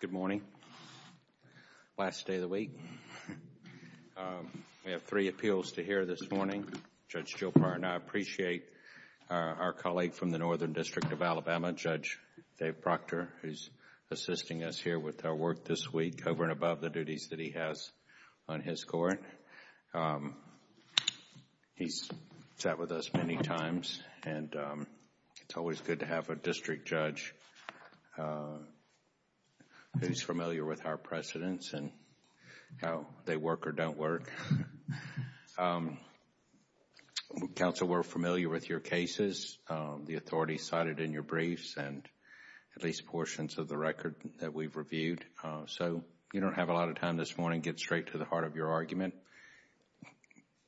Good morning. Last day of the week. We have three appeals to hear this morning. Judge Jopar and I appreciate our colleague from the Northern District of Alabama, Judge Dave Proctor, who is assisting us here with our work this week over and above the duties that we have in his court. He's sat with us many times and it's always good to have a district judge who's familiar with our precedents and how they work or don't work. Counsel, we're familiar with your cases. The authorities cited in your briefs and at least portions of the record that we've reviewed. So you don't have a lot of time this morning. I'm going to get straight to the heart of your argument.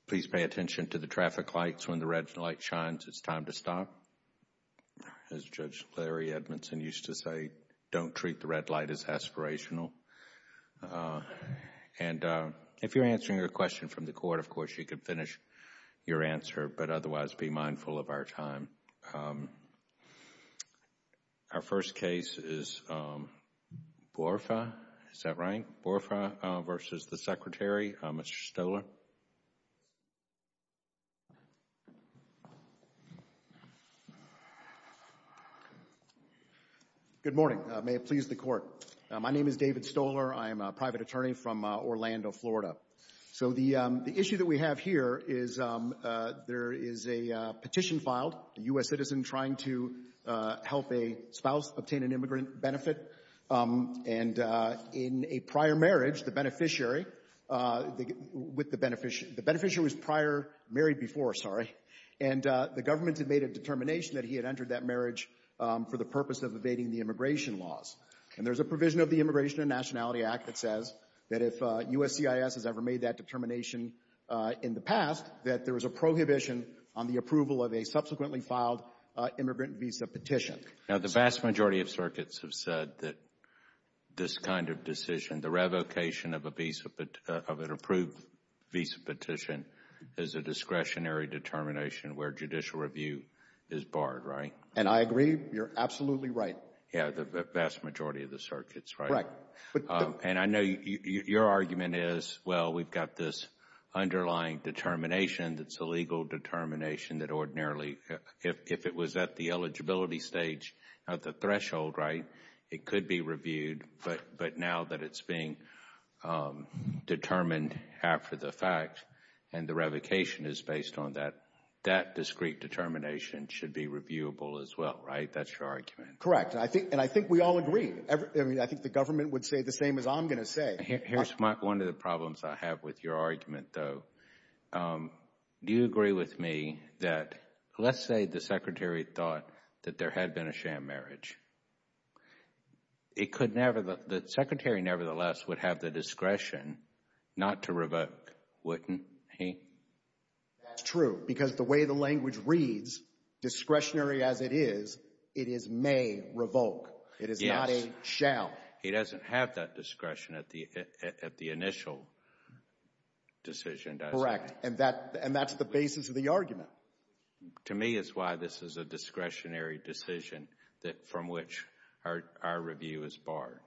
Please pay attention to the traffic lights. When the red light shines, it's time to stop. As Judge Larry Edmondson used to say, don't treat the red light as aspirational. And if you're answering a question from the court, of course, you can finish your answer, but otherwise be mindful of our time. Our first case is Borfa. Is that right? Borfa versus the Secretary, Mr. Stoler. Good morning. May it please the court. My name is David Stoler. I'm a private attorney from Orlando, Florida. So the issue that we have here is there is a petition filed, a U.S. citizen trying to help a spouse obtain an immigrant benefit. And in a prior marriage, the beneficiary, with the beneficiary, the beneficiary was prior, married before, sorry, and the government had made a determination that he had entered that marriage for the purpose of evading the immigration laws. And there's a provision of the Immigration and that if USCIS has ever made that determination in the past, that there was a prohibition on the approval of a subsequently filed immigrant visa petition. Now, the vast majority of circuits have said that this kind of decision, the revocation of a visa, of an approved visa petition is a discretionary determination where judicial review is barred, right? And I agree. You're absolutely right. Yeah, the vast majority of the circuits, right? Right. And I know your argument is, well, we've got this underlying determination that's a legal determination that ordinarily, if it was at the eligibility stage, at the threshold, right, it could be reviewed. But now that it's being determined after the fact and the revocation is based on that, that discrete determination should be reviewable as well, right? That's your argument? Correct. And I think we all agree. I mean, I think the government would say the same as I'm going to say. Here's one of the problems I have with your argument, though. Do you agree with me that, let's say the Secretary thought that there had been a sham marriage. It could never, the Secretary nevertheless would have the discretion not to revoke, wouldn't he? That's true. Because the way the language reads, discretionary as it is, it is may revoke. It is not a shall. He doesn't have that discretion at the initial decision, does he? Correct. And that's the basis of the argument. To me is why this is a discretionary decision from which our review is barred.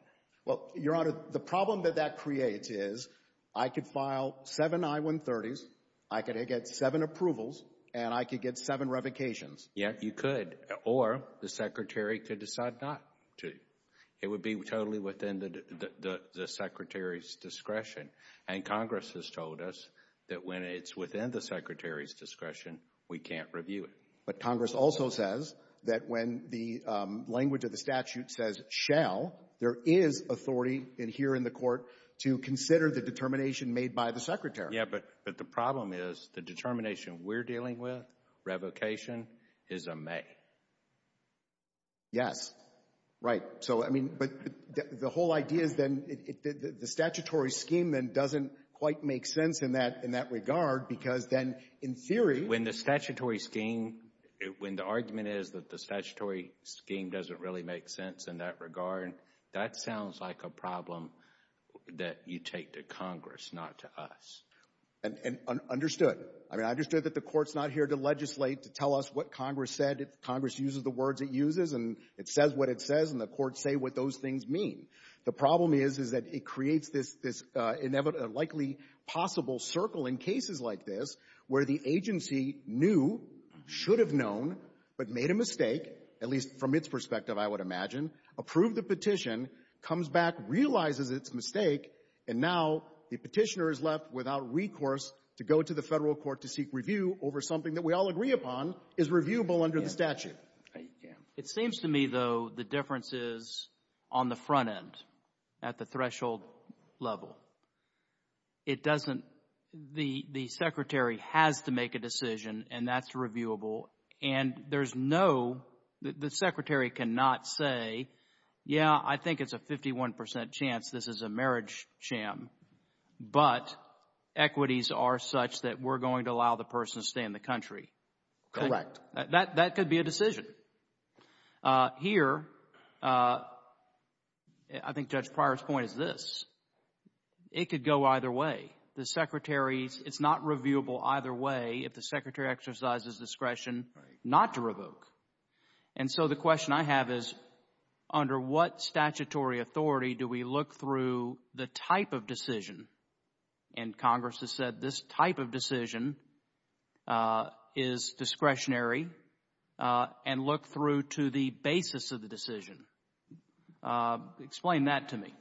Well, Your Honor, the problem that that creates is I could file seven I-130s, I could get seven approvals, and I could get seven revocations. Yeah, you could. Or the Secretary could decide not to. It would be totally within the Secretary's discretion. And Congress has told us that when it's within the Secretary's discretion, we can't review it. But Congress also says that when the language of the statute says shall, there is authority in here in the Court to consider the determination made by the Secretary. Yeah, but the problem is the determination we're dealing with, revocation, is a may. Yes. Right. So, I mean, but the whole idea is then the statutory scheme then doesn't quite make sense in that regard because then in theory When the statutory scheme, when the argument is that the statutory scheme doesn't really make sense in that regard, that sounds like a problem that you take to Congress, not to us. And understood. I mean, I understood that the Court's not here to legislate to tell us what Congress said. Congress uses the words it uses, and it says what it says, and the Courts say what those things mean. The problem is, is that it creates this likely possible circle in cases like this where the agency knew, should have known, but made a mistake, at least from its perspective, I would imagine, approved the petition, comes back, realizes its mistake, and now the Petitioner is left without recourse to go to the Federal court to seek review over something that we all agree upon is reviewable under the statute. Yeah. It seems to me, though, the difference is on the front end, at the threshold level. It doesn't, the Secretary has to make a decision, and that's reviewable, and there's no, the Secretary cannot say, yeah, I think it's a 51 percent chance this is a marriage sham, but equities are such that we're going to allow the person to stay in the country. Correct. That could be a decision. Here, I think Judge Pryor's point is this. It could go either way. The Secretary's, it's not reviewable either way if the Secretary exercises discretion not to revoke, and so the question I have is under what statutory authority do we look through the type of decision, and Congress has said this type of decision is discretionary and look through to the basis of the decision. Explain that to me.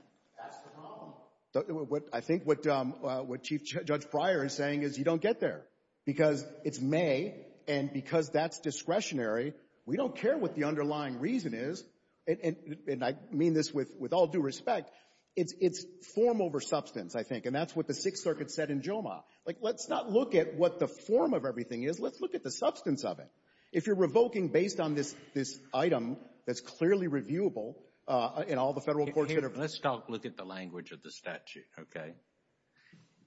That's the problem. I think what Chief Judge Pryor is saying is you don't get there because it's may, and because that's discretionary, we don't care what the underlying reason is, and I mean this with all due respect. It's form over substance, I think, and that's what the Sixth Circuit said in JOMA. Like, let's not look at what the form of everything is. Let's look at the substance of it. If you're revoking based on this item that's clearly reviewable, and all the federal courts should have— Let's not look at the language of the statute, okay?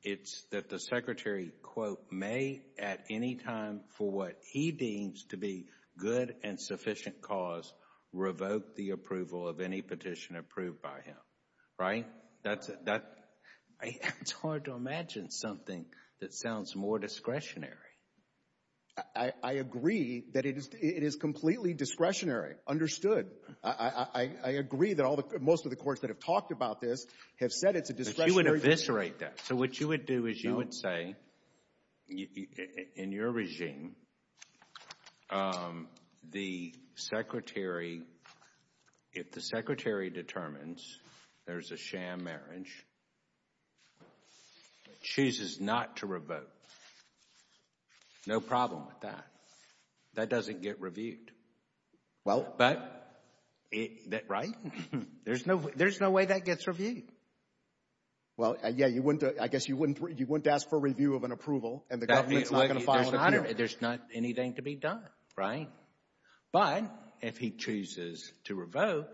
It's that the Secretary, quote, may at any time for what he deems to be good and sufficient cause revoke the approval of any petition approved by him, right? That's hard to imagine something that sounds more discretionary. I agree that it is completely discretionary. Understood. I agree that most of the courts that have talked about this have said it's a discretionary— But you would eviscerate that. So what you would do is you would say, in your regime, the Secretary, if the Secretary determines there's a sham marriage, chooses not to revoke, no problem with that. That doesn't get reviewed. Well— But, right? There's no way that gets reviewed. Well, yeah, you wouldn't, I guess you wouldn't, you wouldn't ask for review of an approval, and the government's not going to follow the— There's not anything to be done, right? But if he chooses to revoke,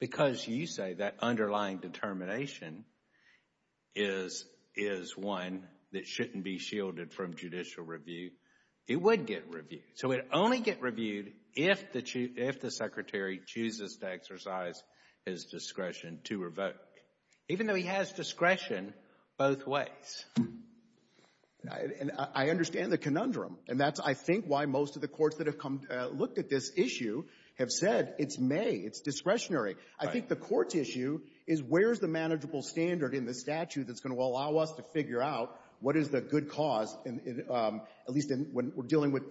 because you say that underlying determination is one that shouldn't be shielded from judicial review, it would get reviewed. So it would only get reviewed if the Secretary chooses to exercise his discretion to revoke, even though he has discretion both ways. And I understand the conundrum, and that's, I think, why most of the courts that have come look at this issue have said it's may, it's discretionary. I think the court's issue is where's the manageable standard in the statute that's going to allow us to figure out what is the good cause, at least when we're dealing with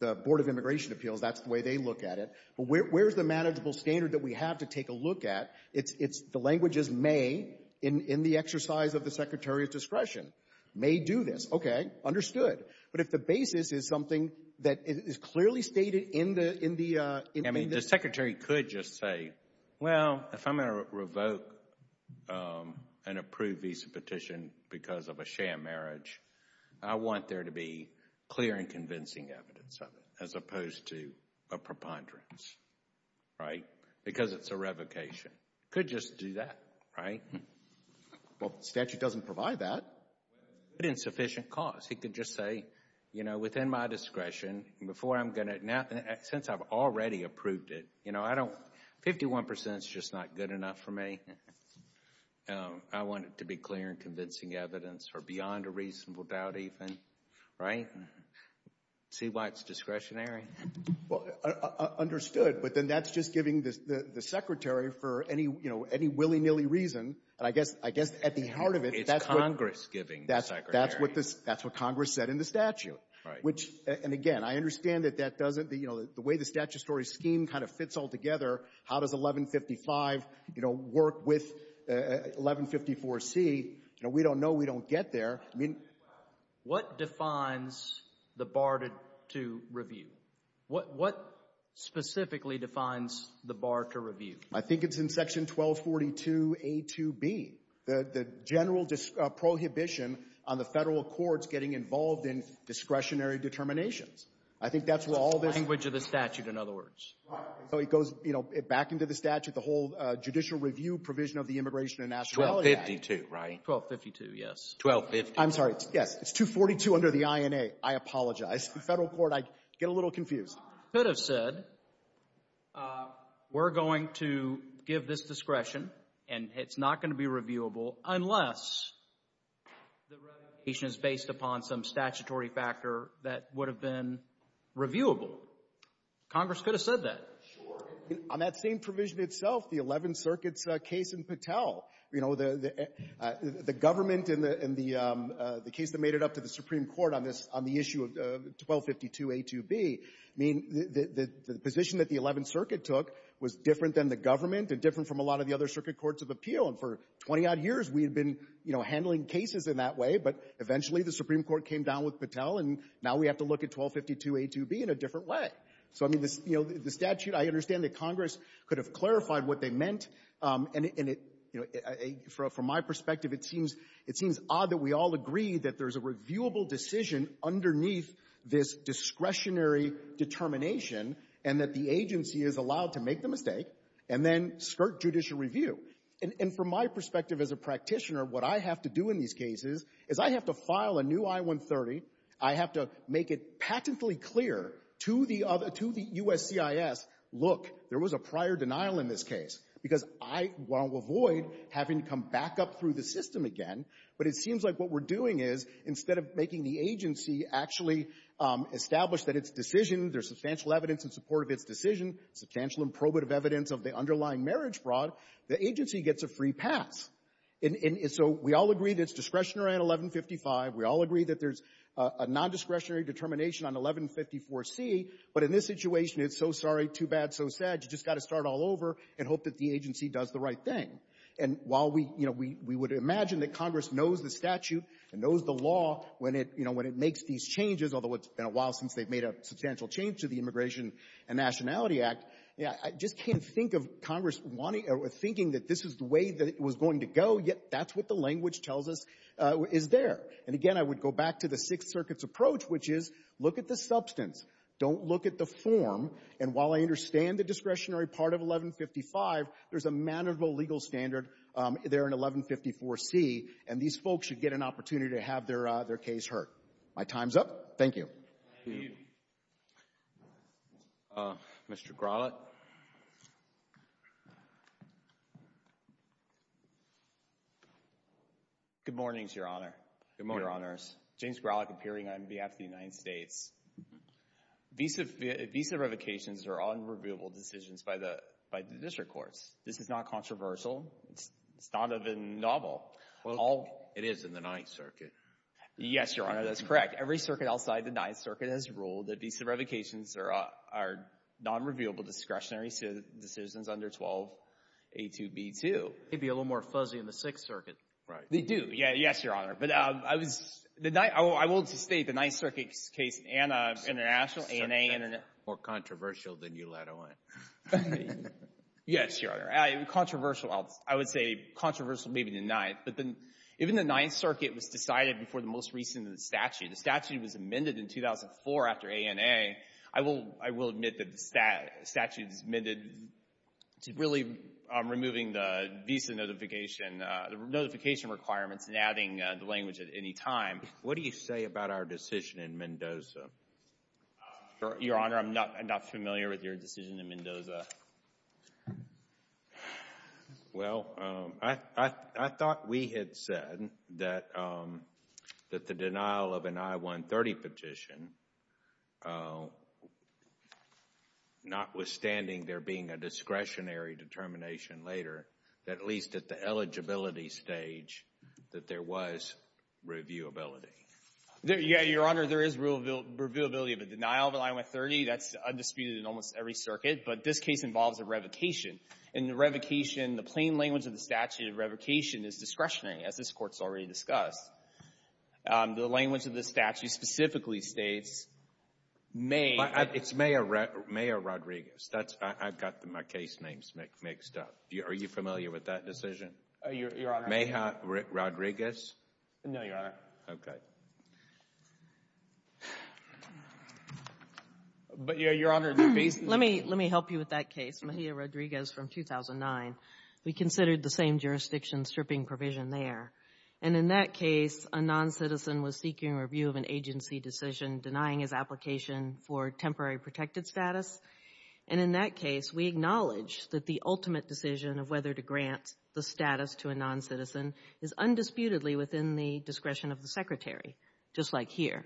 the Board of Immigration Appeals, that's the way they look at it. But where's the manageable standard that we have to take a look at? It's the language is may, in the exercise of the Secretary's discretion, may do this. Okay, understood. But if the basis is something that is clearly stated in the— I mean, the Secretary could just say, well, if I'm going to revoke an approved visa petition because of a sham marriage, I want there to be clear and convincing evidence of it, as opposed to a preponderance, right? Because it's a revocation. Could just do that, right? Well, the statute doesn't provide that. But insufficient cause. He could just say, you know, within my discretion, before I'm going to—since I've already approved it, you know, I don't—51% is just not good enough for me. I want it to be clear and convincing evidence or beyond a reasonable doubt even, right? See why it's discretionary. Well, understood. But then that's just giving the Secretary for any, you know, any willy-nilly reason. And I guess at the heart of it— It's Congress giving the Secretary. That's what Congress said in the statute. Right. Which—and again, I understand that that doesn't—you know, the way the statutory scheme kind of fits all together. How does 1155, you know, work with 1154C? You know, we don't know. We don't get there. I mean— What defines the bar to review? What specifically defines the bar to review? I think it's in section 1242A2B. The general prohibition on the federal courts getting involved in discretionary determinations. I think that's where all this— It goes, you know, back into the statute, the whole judicial review provision of the Immigration and Nationality Act. 1252, right? 1252, yes. 1250. I'm sorry. Yes. It's 242 under the INA. I apologize. The federal court—I get a little confused. Could have said, we're going to give this discretion and it's not going to be reviewable unless the revocation is based upon some statutory factor that would have been reviewable. Congress could have said that. Sure. On that same provision itself, the Eleventh Circuit's case in Patel, you know, the government and the case that made it up to the Supreme Court on this—on the issue of 1252A2B, I mean, the position that the Eleventh Circuit took was different than the government and different from a lot of the other circuit courts of appeal. And for 20-odd years, we had been, you know, handling cases in that way. But eventually, the Supreme Court took 1252A2B in a different way. So, I mean, you know, the statute, I understand that Congress could have clarified what they meant. And it, you know, from my perspective, it seems odd that we all agree that there's a reviewable decision underneath this discretionary determination and that the agency is allowed to make the mistake and then skirt judicial review. And from my perspective as a practitioner, what I have to do in these cases is I have to file a new I-130, I have to make it patently clear to the U.S. CIS, look, there was a prior denial in this case, because I want to avoid having to come back up through the system again. But it seems like what we're doing is, instead of making the agency actually establish that its decision, there's substantial evidence in support of its decision, substantial and probative evidence of the underlying marriage fraud, the agency gets a free pass. And so we all agree that it's discretionary on 1155. We all agree that there's a nondiscretionary determination on 1154C. But in this situation, it's so sorry, too bad, so sad. You've just got to start all over and hope that the agency does the right thing. And while we, you know, we would imagine that Congress knows the statute and knows the law when it, you know, when it makes these changes, although it's been a while since they've made a substantial change to the Immigration and Nationality Act, I just can't think of Congress wanting or thinking that this is the way that it was going to go, yet that's what the language tells us is there. And again, I would go back to the Sixth Circuit's approach, which is look at the substance, don't look at the form. And while I understand the discretionary part of 1155, there's a manageable legal standard there in 1154C, and these folks should get an opportunity to have their case heard. My time's up. Thank you. Mr. Grawlitt. Good morning, Your Honor. Good morning, Your Honors. James Grawlitt, appearing on behalf of the United States. Visa revocations are unreviewable decisions by the district courts. This is not controversial. It's not even novel. Well, it is in the Ninth Circuit. Yes, Your Honor, that's correct. Every circuit outside the Ninth Circuit has ruled that visa revocations are non-reviewable discretionary decisions under 12A2B2. They'd be a little more fuzzy in the Sixth Circuit. Right. They do. Yeah. Yes, Your Honor. But I was, the Ninth, I will, I will just state the Ninth Circuit's case and international, A&A and. It's certainly more controversial than you let on. Yes, Your Honor. Controversial, I would say controversial maybe in the Ninth, but then even the Ninth Circuit was decided before the most recent statute. The statute was amended in 2004 after A&A. I will, I will admit that the statute is amended to really removing the visa notification, the notification requirements and adding the language at any time. What do you say about our decision in Mendoza? Your Honor, I'm not, I'm not familiar with your decision in Mendoza. Well, I thought we had said that, that the denial of an I-130 petition, not at least at the eligibility stage, that there was reviewability. Yeah, Your Honor, there is reviewability of a denial of an I-130. That's undisputed in almost every circuit. But this case involves a revocation, and the revocation, the plain language of the statute of revocation is discretionary, as this Court's already discussed. The language of the statute specifically states may. It's Maya Rodriguez. That's, I've got my case names mixed up. Are you familiar with that? Oh, Your Honor. Maya Rodriguez? No, Your Honor. Okay. But, Your Honor, the basis of the case... Let me, let me help you with that case, Maya Rodriguez from 2009. We considered the same jurisdiction stripping provision there. And in that case, a non-citizen was seeking review of an agency decision denying his application for temporary protected status. And in that case, we acknowledge that the ultimate decision of whether to grant the status to a non-citizen is undisputedly within the discretion of the Secretary, just like here.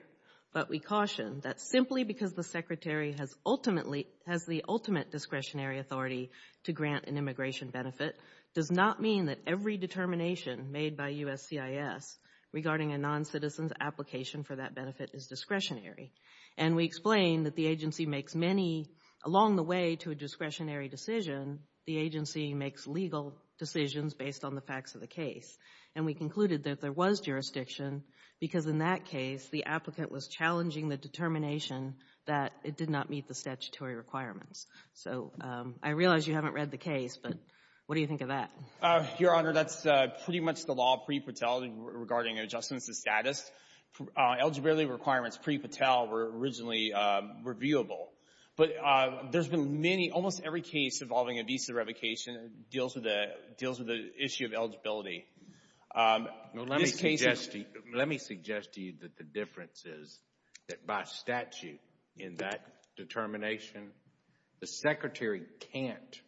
But we caution that simply because the Secretary has ultimately, has the ultimate discretionary authority to grant an immigration benefit does not mean that every determination made by USCIS regarding a non-citizen's application for that benefit is discretionary. And we explain that the agency makes many, along the way to a discretionary decision, the agency makes legal decisions based on the facts of the case. And we concluded that there was jurisdiction because in that case, the applicant was challenging the determination that it did not meet the statutory requirements. So, I realize you haven't read the case, but what do you think of that? Your Honor, that's pretty much the law pre-Patel regarding adjustments to status. Eligibility requirements pre-Patel were originally reviewable, but there's been many, almost every case involving a visa revocation deals with the issue of eligibility. Let me suggest to you that the difference is that by statute in that determination, the Secretary can't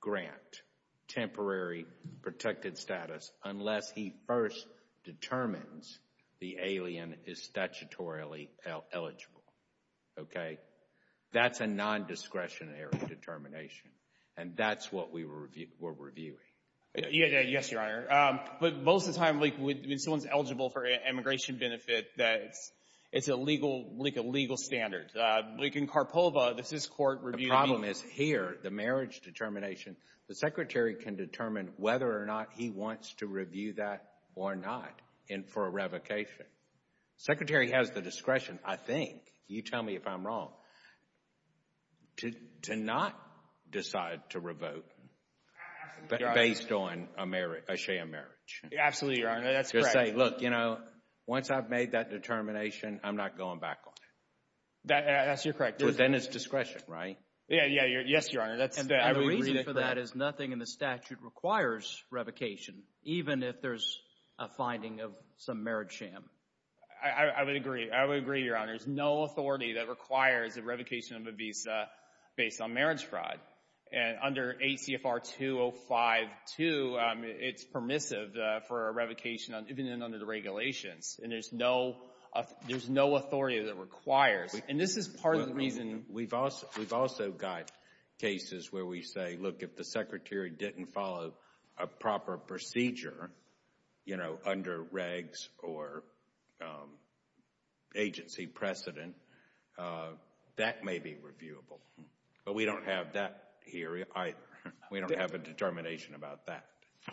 grant temporary protected status unless he first determines the alien is statutorily eligible. Okay? That's a non-discretionary determination. And that's what we were reviewing. Yes, Your Honor. But most of the time, when someone's eligible for an immigration benefit, it's a legal standard. Like in Karpova, this is court review. The problem is here, the marriage determination, the Secretary can determine whether or not he wants to review that or not. And for a revocation, Secretary has the discretion, I think, you tell me if I'm wrong, to not decide to revote based on a sham marriage. Absolutely, Your Honor. That's correct. To say, look, you know, once I've made that determination, I'm not going back on it. That's, you're correct. But then it's discretion, right? Yeah, yeah. Yes, Your Honor. That's the reason for that is nothing in the statute requires revocation, even if there's a finding of some marriage sham. I would agree. I would agree, Your Honor. There's no authority that requires a revocation of a visa based on marriage fraud. And under ACFR 205-2, it's permissive for a revocation even under the regulations. And there's no authority that requires. And this is part of the reason we've also got cases where we say, look, if the you know, under regs or agency precedent, that may be reviewable. But we don't have that here either. We don't have a determination about that.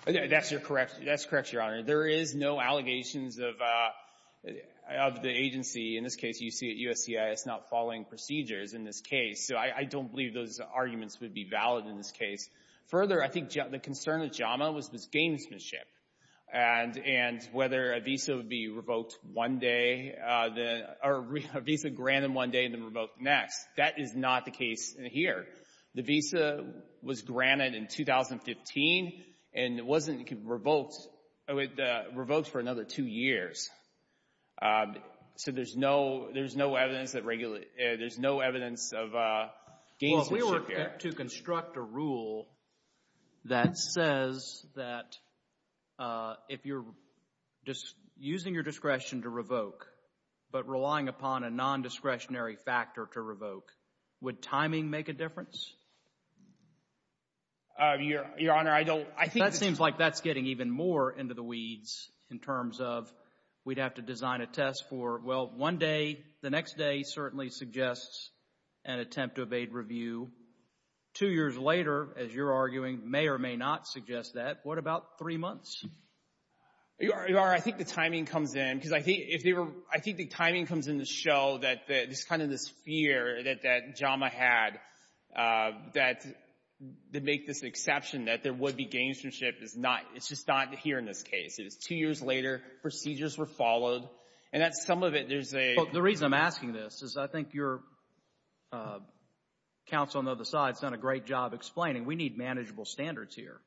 That's correct. That's correct, Your Honor. There is no allegations of the agency. In this case, you see at USCIS not following procedures in this case. So I don't believe those arguments would be valid in this case. Further, I think the concern of JAMA was this gamesmanship. And whether a visa would be revoked one day, or a visa granted one day and then revoked next. That is not the case here. The visa was granted in 2015, and it wasn't revoked for another two years. So there's no evidence of gamesmanship here. To construct a rule that says that if you're just using your discretion to revoke, but relying upon a non-discretionary factor to revoke, would timing make a difference? Your Honor, I don't. I think that seems like that's getting even more into the weeds in terms of we'd have to design a test for, well, one day. The next day certainly suggests an attempt to evade review. Two years later, as you're arguing, may or may not suggest that. What about three months? Your Honor, I think the timing comes in. Because I think if they were, I think the timing comes in to show that this kind of this fear that JAMA had, that they make this exception that there would be gamesmanship is not, it's just not here in this case. It is two years later, procedures were followed, and that's some of it. The reason I'm asking this is I think your counsel on the other side has done a great job explaining, we need manageable standards here.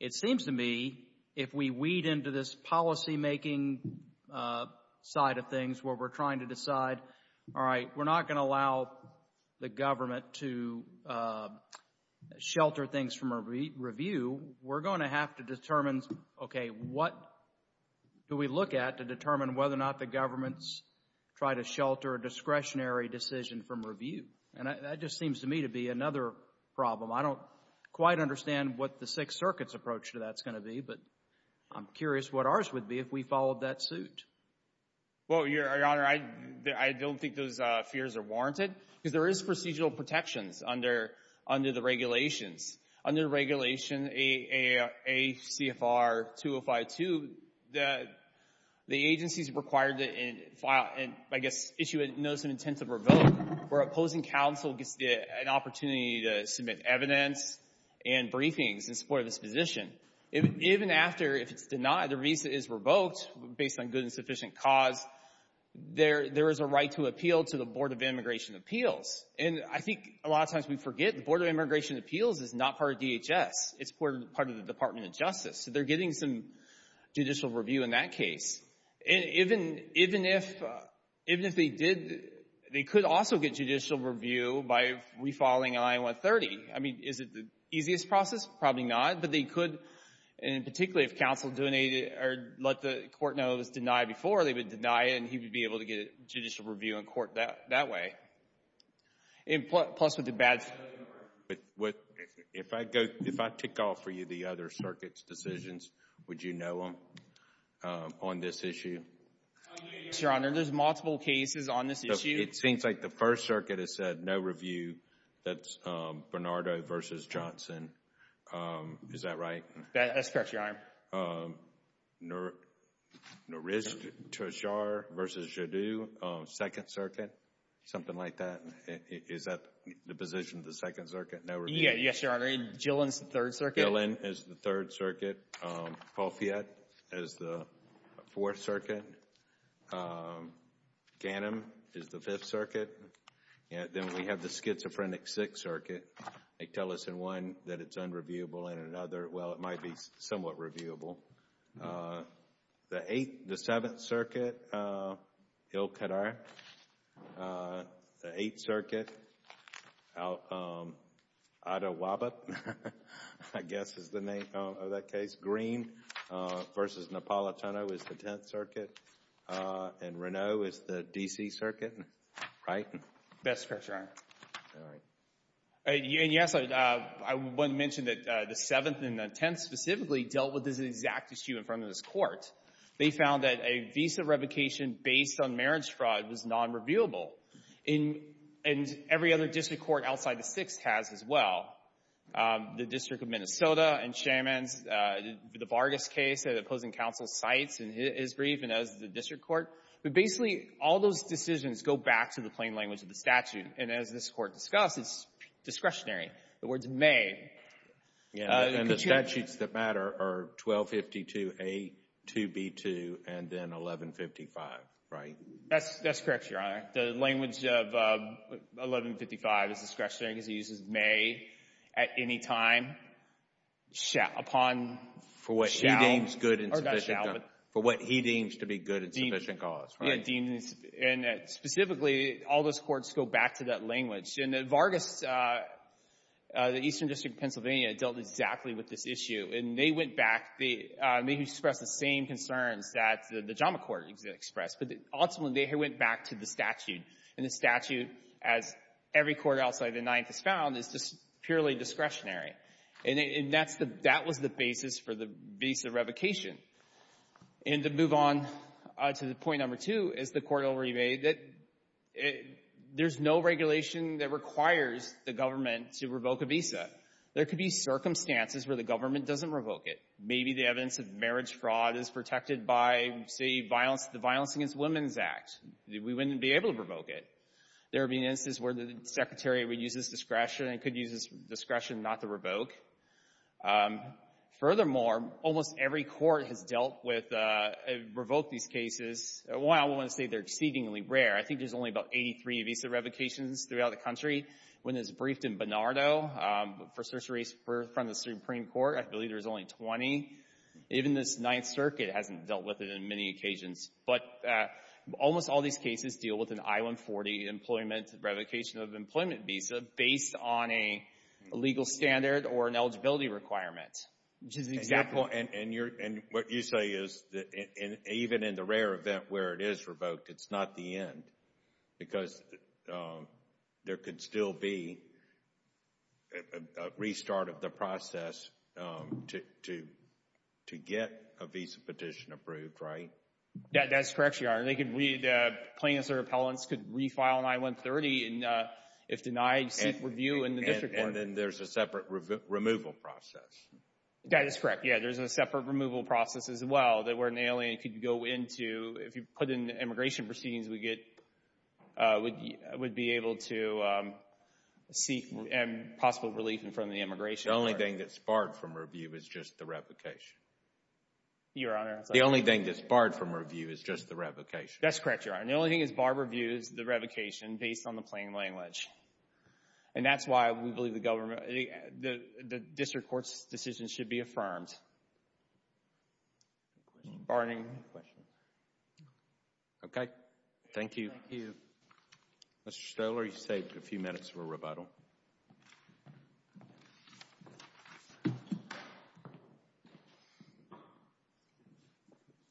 It seems to me if we weed into this policymaking side of things where we're trying to decide, all right, we're not going to allow the government to shelter things from a review, we're going to have to determine, okay, what do we look at to determine whether or not the government's trying to shelter a discretionary decision from review? And that just seems to me to be another problem. I don't quite understand what the Sixth Circuit's approach to that's going to be, but I'm curious what ours would be if we followed that suit. Well, Your Honor, I don't think those fears are warranted because there is procedural protections under the regulations. Under Regulation ACFR-2052, the agency's required to file, I guess, issue a notice of intent to revoke where opposing counsel gets an opportunity to submit evidence and briefings in support of this position. Even after, if it's denied, the visa is revoked based on good and sufficient cause, there is a right to appeal to the Board of Immigration Appeals. And I think a lot of times we forget the Board of Immigration Appeals is not part of DHS, it's part of the Department of Justice. So they're getting some judicial review in that case. And even if they did, they could also get judicial review by refiling I-130. I mean, is it the easiest process? Probably not. But they could, and particularly if counsel let the court know it was denied before, they would deny it and he would be able to get judicial review in court that way. And plus, with the bad... But if I go, if I tick off for you the other circuits' decisions, would you know them on this issue? Your Honor, there's multiple cases on this issue. It seems like the First Circuit has said no review. That's Bernardo versus Johnson. Is that right? That's correct, Your Honor. Nourish Tashar versus Jadu, Second Circuit, something like that. Is that the position of the Second Circuit? No review? Yes, Your Honor. And Gillen's the Third Circuit? Gillen is the Third Circuit. Palfiette is the Fourth Circuit. Gannon is the Fifth Circuit. Then we have the Schizophrenic Sixth Circuit. They tell us in one that it's unreviewable, and in another, well, it might be somewhat reviewable. The Eighth, the Seventh Circuit, Ilkadar. The Eighth Circuit, Adewabit, I guess is the name of that case. Green versus Napolitano is the Tenth Circuit. And Renault is the D.C. Circuit, right? That's correct, Your Honor. And yes, I want to mention that the Seventh and the Tenth specifically dealt with this exact issue in front of this Court. They found that a visa revocation based on marriage fraud was non-reviewable. And every other district court outside the Sixth has as well. The District of Minnesota and Chairman's, the Vargas case, the opposing counsel cites in his brief and as the district court. But basically, all those decisions go back to the plain language of the statute. And as this Court discussed, it's discretionary. The word's may. Yeah, and the statutes that matter are 1252A, 2B2, and then 1155, right? That's correct, Your Honor. The language of 1155 is discretionary because it uses may, at any time, upon, shall, or not shall, but. For what he deems to be good and sufficient cause, right? Yeah, deemed, and specifically, all those courts go back to that language. And the Vargas, the Eastern District of Pennsylvania, dealt exactly with this issue. And they went back. They expressed the same concerns that the Jama Court expressed. But ultimately, they went back to the statute. And the statute, as every court outside the Ninth has found, is just purely discretionary. And that's the, that was the basis for the visa revocation. And to move on to the point number two, as the Court already made, that there's no regulation that requires the government to revoke a visa. There could be circumstances where the government doesn't revoke it. Maybe the evidence of marriage fraud is protected by, say, violence, the Violence Against Women's Act. We wouldn't be able to revoke it. There have been instances where the Secretary would use this discretion, and could use this discretion not to revoke. Furthermore, almost every court has dealt with, revoked these cases. While I wouldn't say they're exceedingly rare, I think there's only about 83 visa revocations throughout the country. When it was briefed in Bernardo, for Cerceris, for, from the Supreme Court, I believe there's only 20. Even this Ninth Circuit hasn't dealt with it in many occasions. But almost all these cases deal with an I-140 employment, revocation of employment visa, based on a legal standard or an eligibility requirement. Which is exactly. Well, and you're, and what you say is that even in the rare event where it is revoked, it's not the end. Because there could still be a restart of the process to get a visa petition approved, right? That's correct, Your Honor. They could, the plaintiffs or appellants could refile an I-130, and if denied, seek review in the district court. And then there's a separate removal process. That is correct. Yeah, there's a separate removal process as well, that where an alien could go into, if you put in the immigration proceedings, we get, would be able to seek possible relief in front of the immigration court. The only thing that's barred from review is just the revocation. Your Honor. The only thing that's barred from review is just the revocation. That's correct, Your Honor. The only thing that's barred from review is the revocation, based on the plain language. And that's why we believe the government, the district court's decision should be affirmed. Barney. Okay, thank you. Mr. Stoler, you saved a few minutes for rebuttal.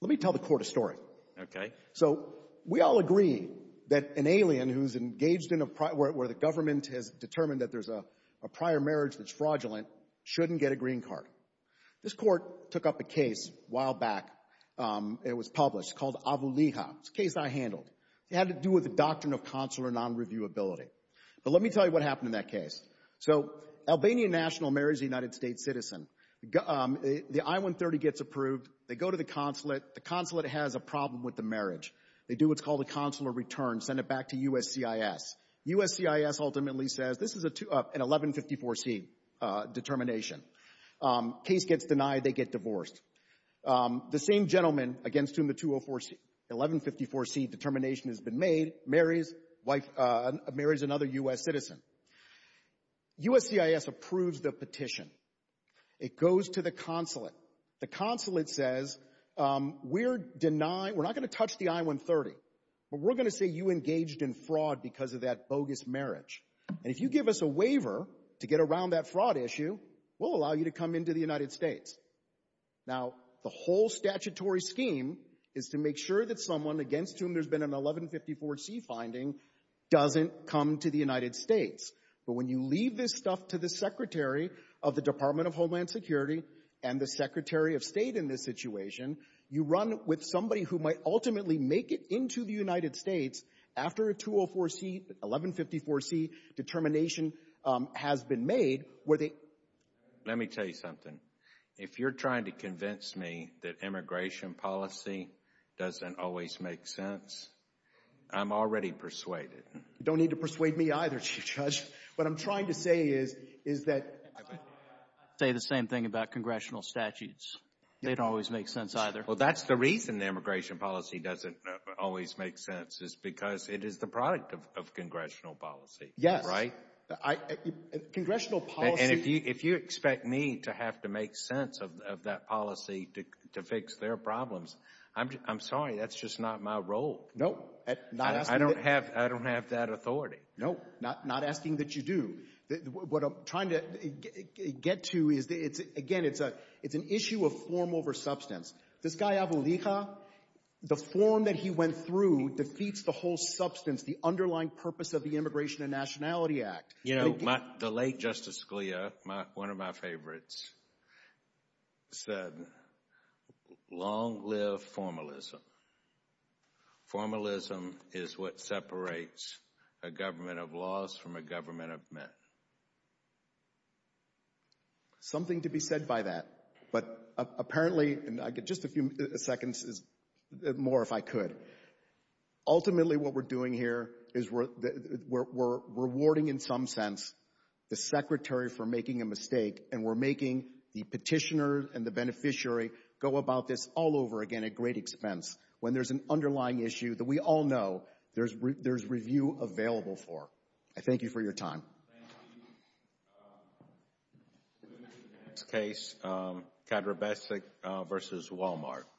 Let me tell the court a story. Okay. So, we all agree that an alien who's engaged in a, where the government has determined that there's a prior marriage that's fraudulent, shouldn't get a green card. This court took up a case a while back, and it was published, called Avulija. It's a case I handled. It had to do with the doctrine of consular non-reviewability. But let me tell you what happened in that case. So, Albanian national marriage, a United States citizen, the I-130 gets approved. They go to the consulate. The consulate has a problem with the marriage. They do what's called a consular return, send it back to USCIS. USCIS ultimately says, this is an 1154C determination. Case gets denied. They get divorced. The same gentleman against whom the 1154C determination has been made marries another U.S. citizen. USCIS approves the petition. It goes to the consulate. The consulate says, we're denying, we're not going to touch the I-130, but we're going to say you engaged in fraud because of that bogus marriage. And if you give us a waiver to get around that fraud issue, we'll allow you to come into the United States. Now, the whole statutory scheme is to make sure that someone against whom there's been an 1154C finding doesn't come to the United States. But when you leave this stuff to the Secretary of the Department of Homeland Security and the Secretary of State in this situation, you run with somebody who might ultimately make it into the United States after a 204C, 1154C determination has been made, where they Let me tell you something. If you're trying to convince me that immigration policy doesn't always make sense, I'm already persuaded. You don't need to persuade me either, Chief Judge. What I'm trying to say is, is that I would say the same thing about congressional statutes. They don't always make sense either. Well, that's the reason immigration policy doesn't always make sense, is because it is the product of congressional policy. Yes. Right? Congressional policy. And if you expect me to have to make sense of that policy to fix their problems, I'm sorry, that's just not my role. No. I don't have that authority. No, not asking that you do. What I'm trying to get to is, again, it's an issue of form over substance. This guy, Abulikha, the form that he went through defeats the whole substance, the underlying purpose of the Immigration and Nationality Act. You know, the late Justice Scalia, one of my favorites, said, long live formalism. Formalism is what separates a government of laws from a government of men. Something to be said by that. But apparently, just a few seconds more, if I could. Ultimately, what we're doing here is we're rewarding, in some sense, the Secretary for making a mistake, and we're making the petitioner and the beneficiary go about this all over, again, at great expense. When there's an underlying issue that we all know there's review available for. I thank you for your time.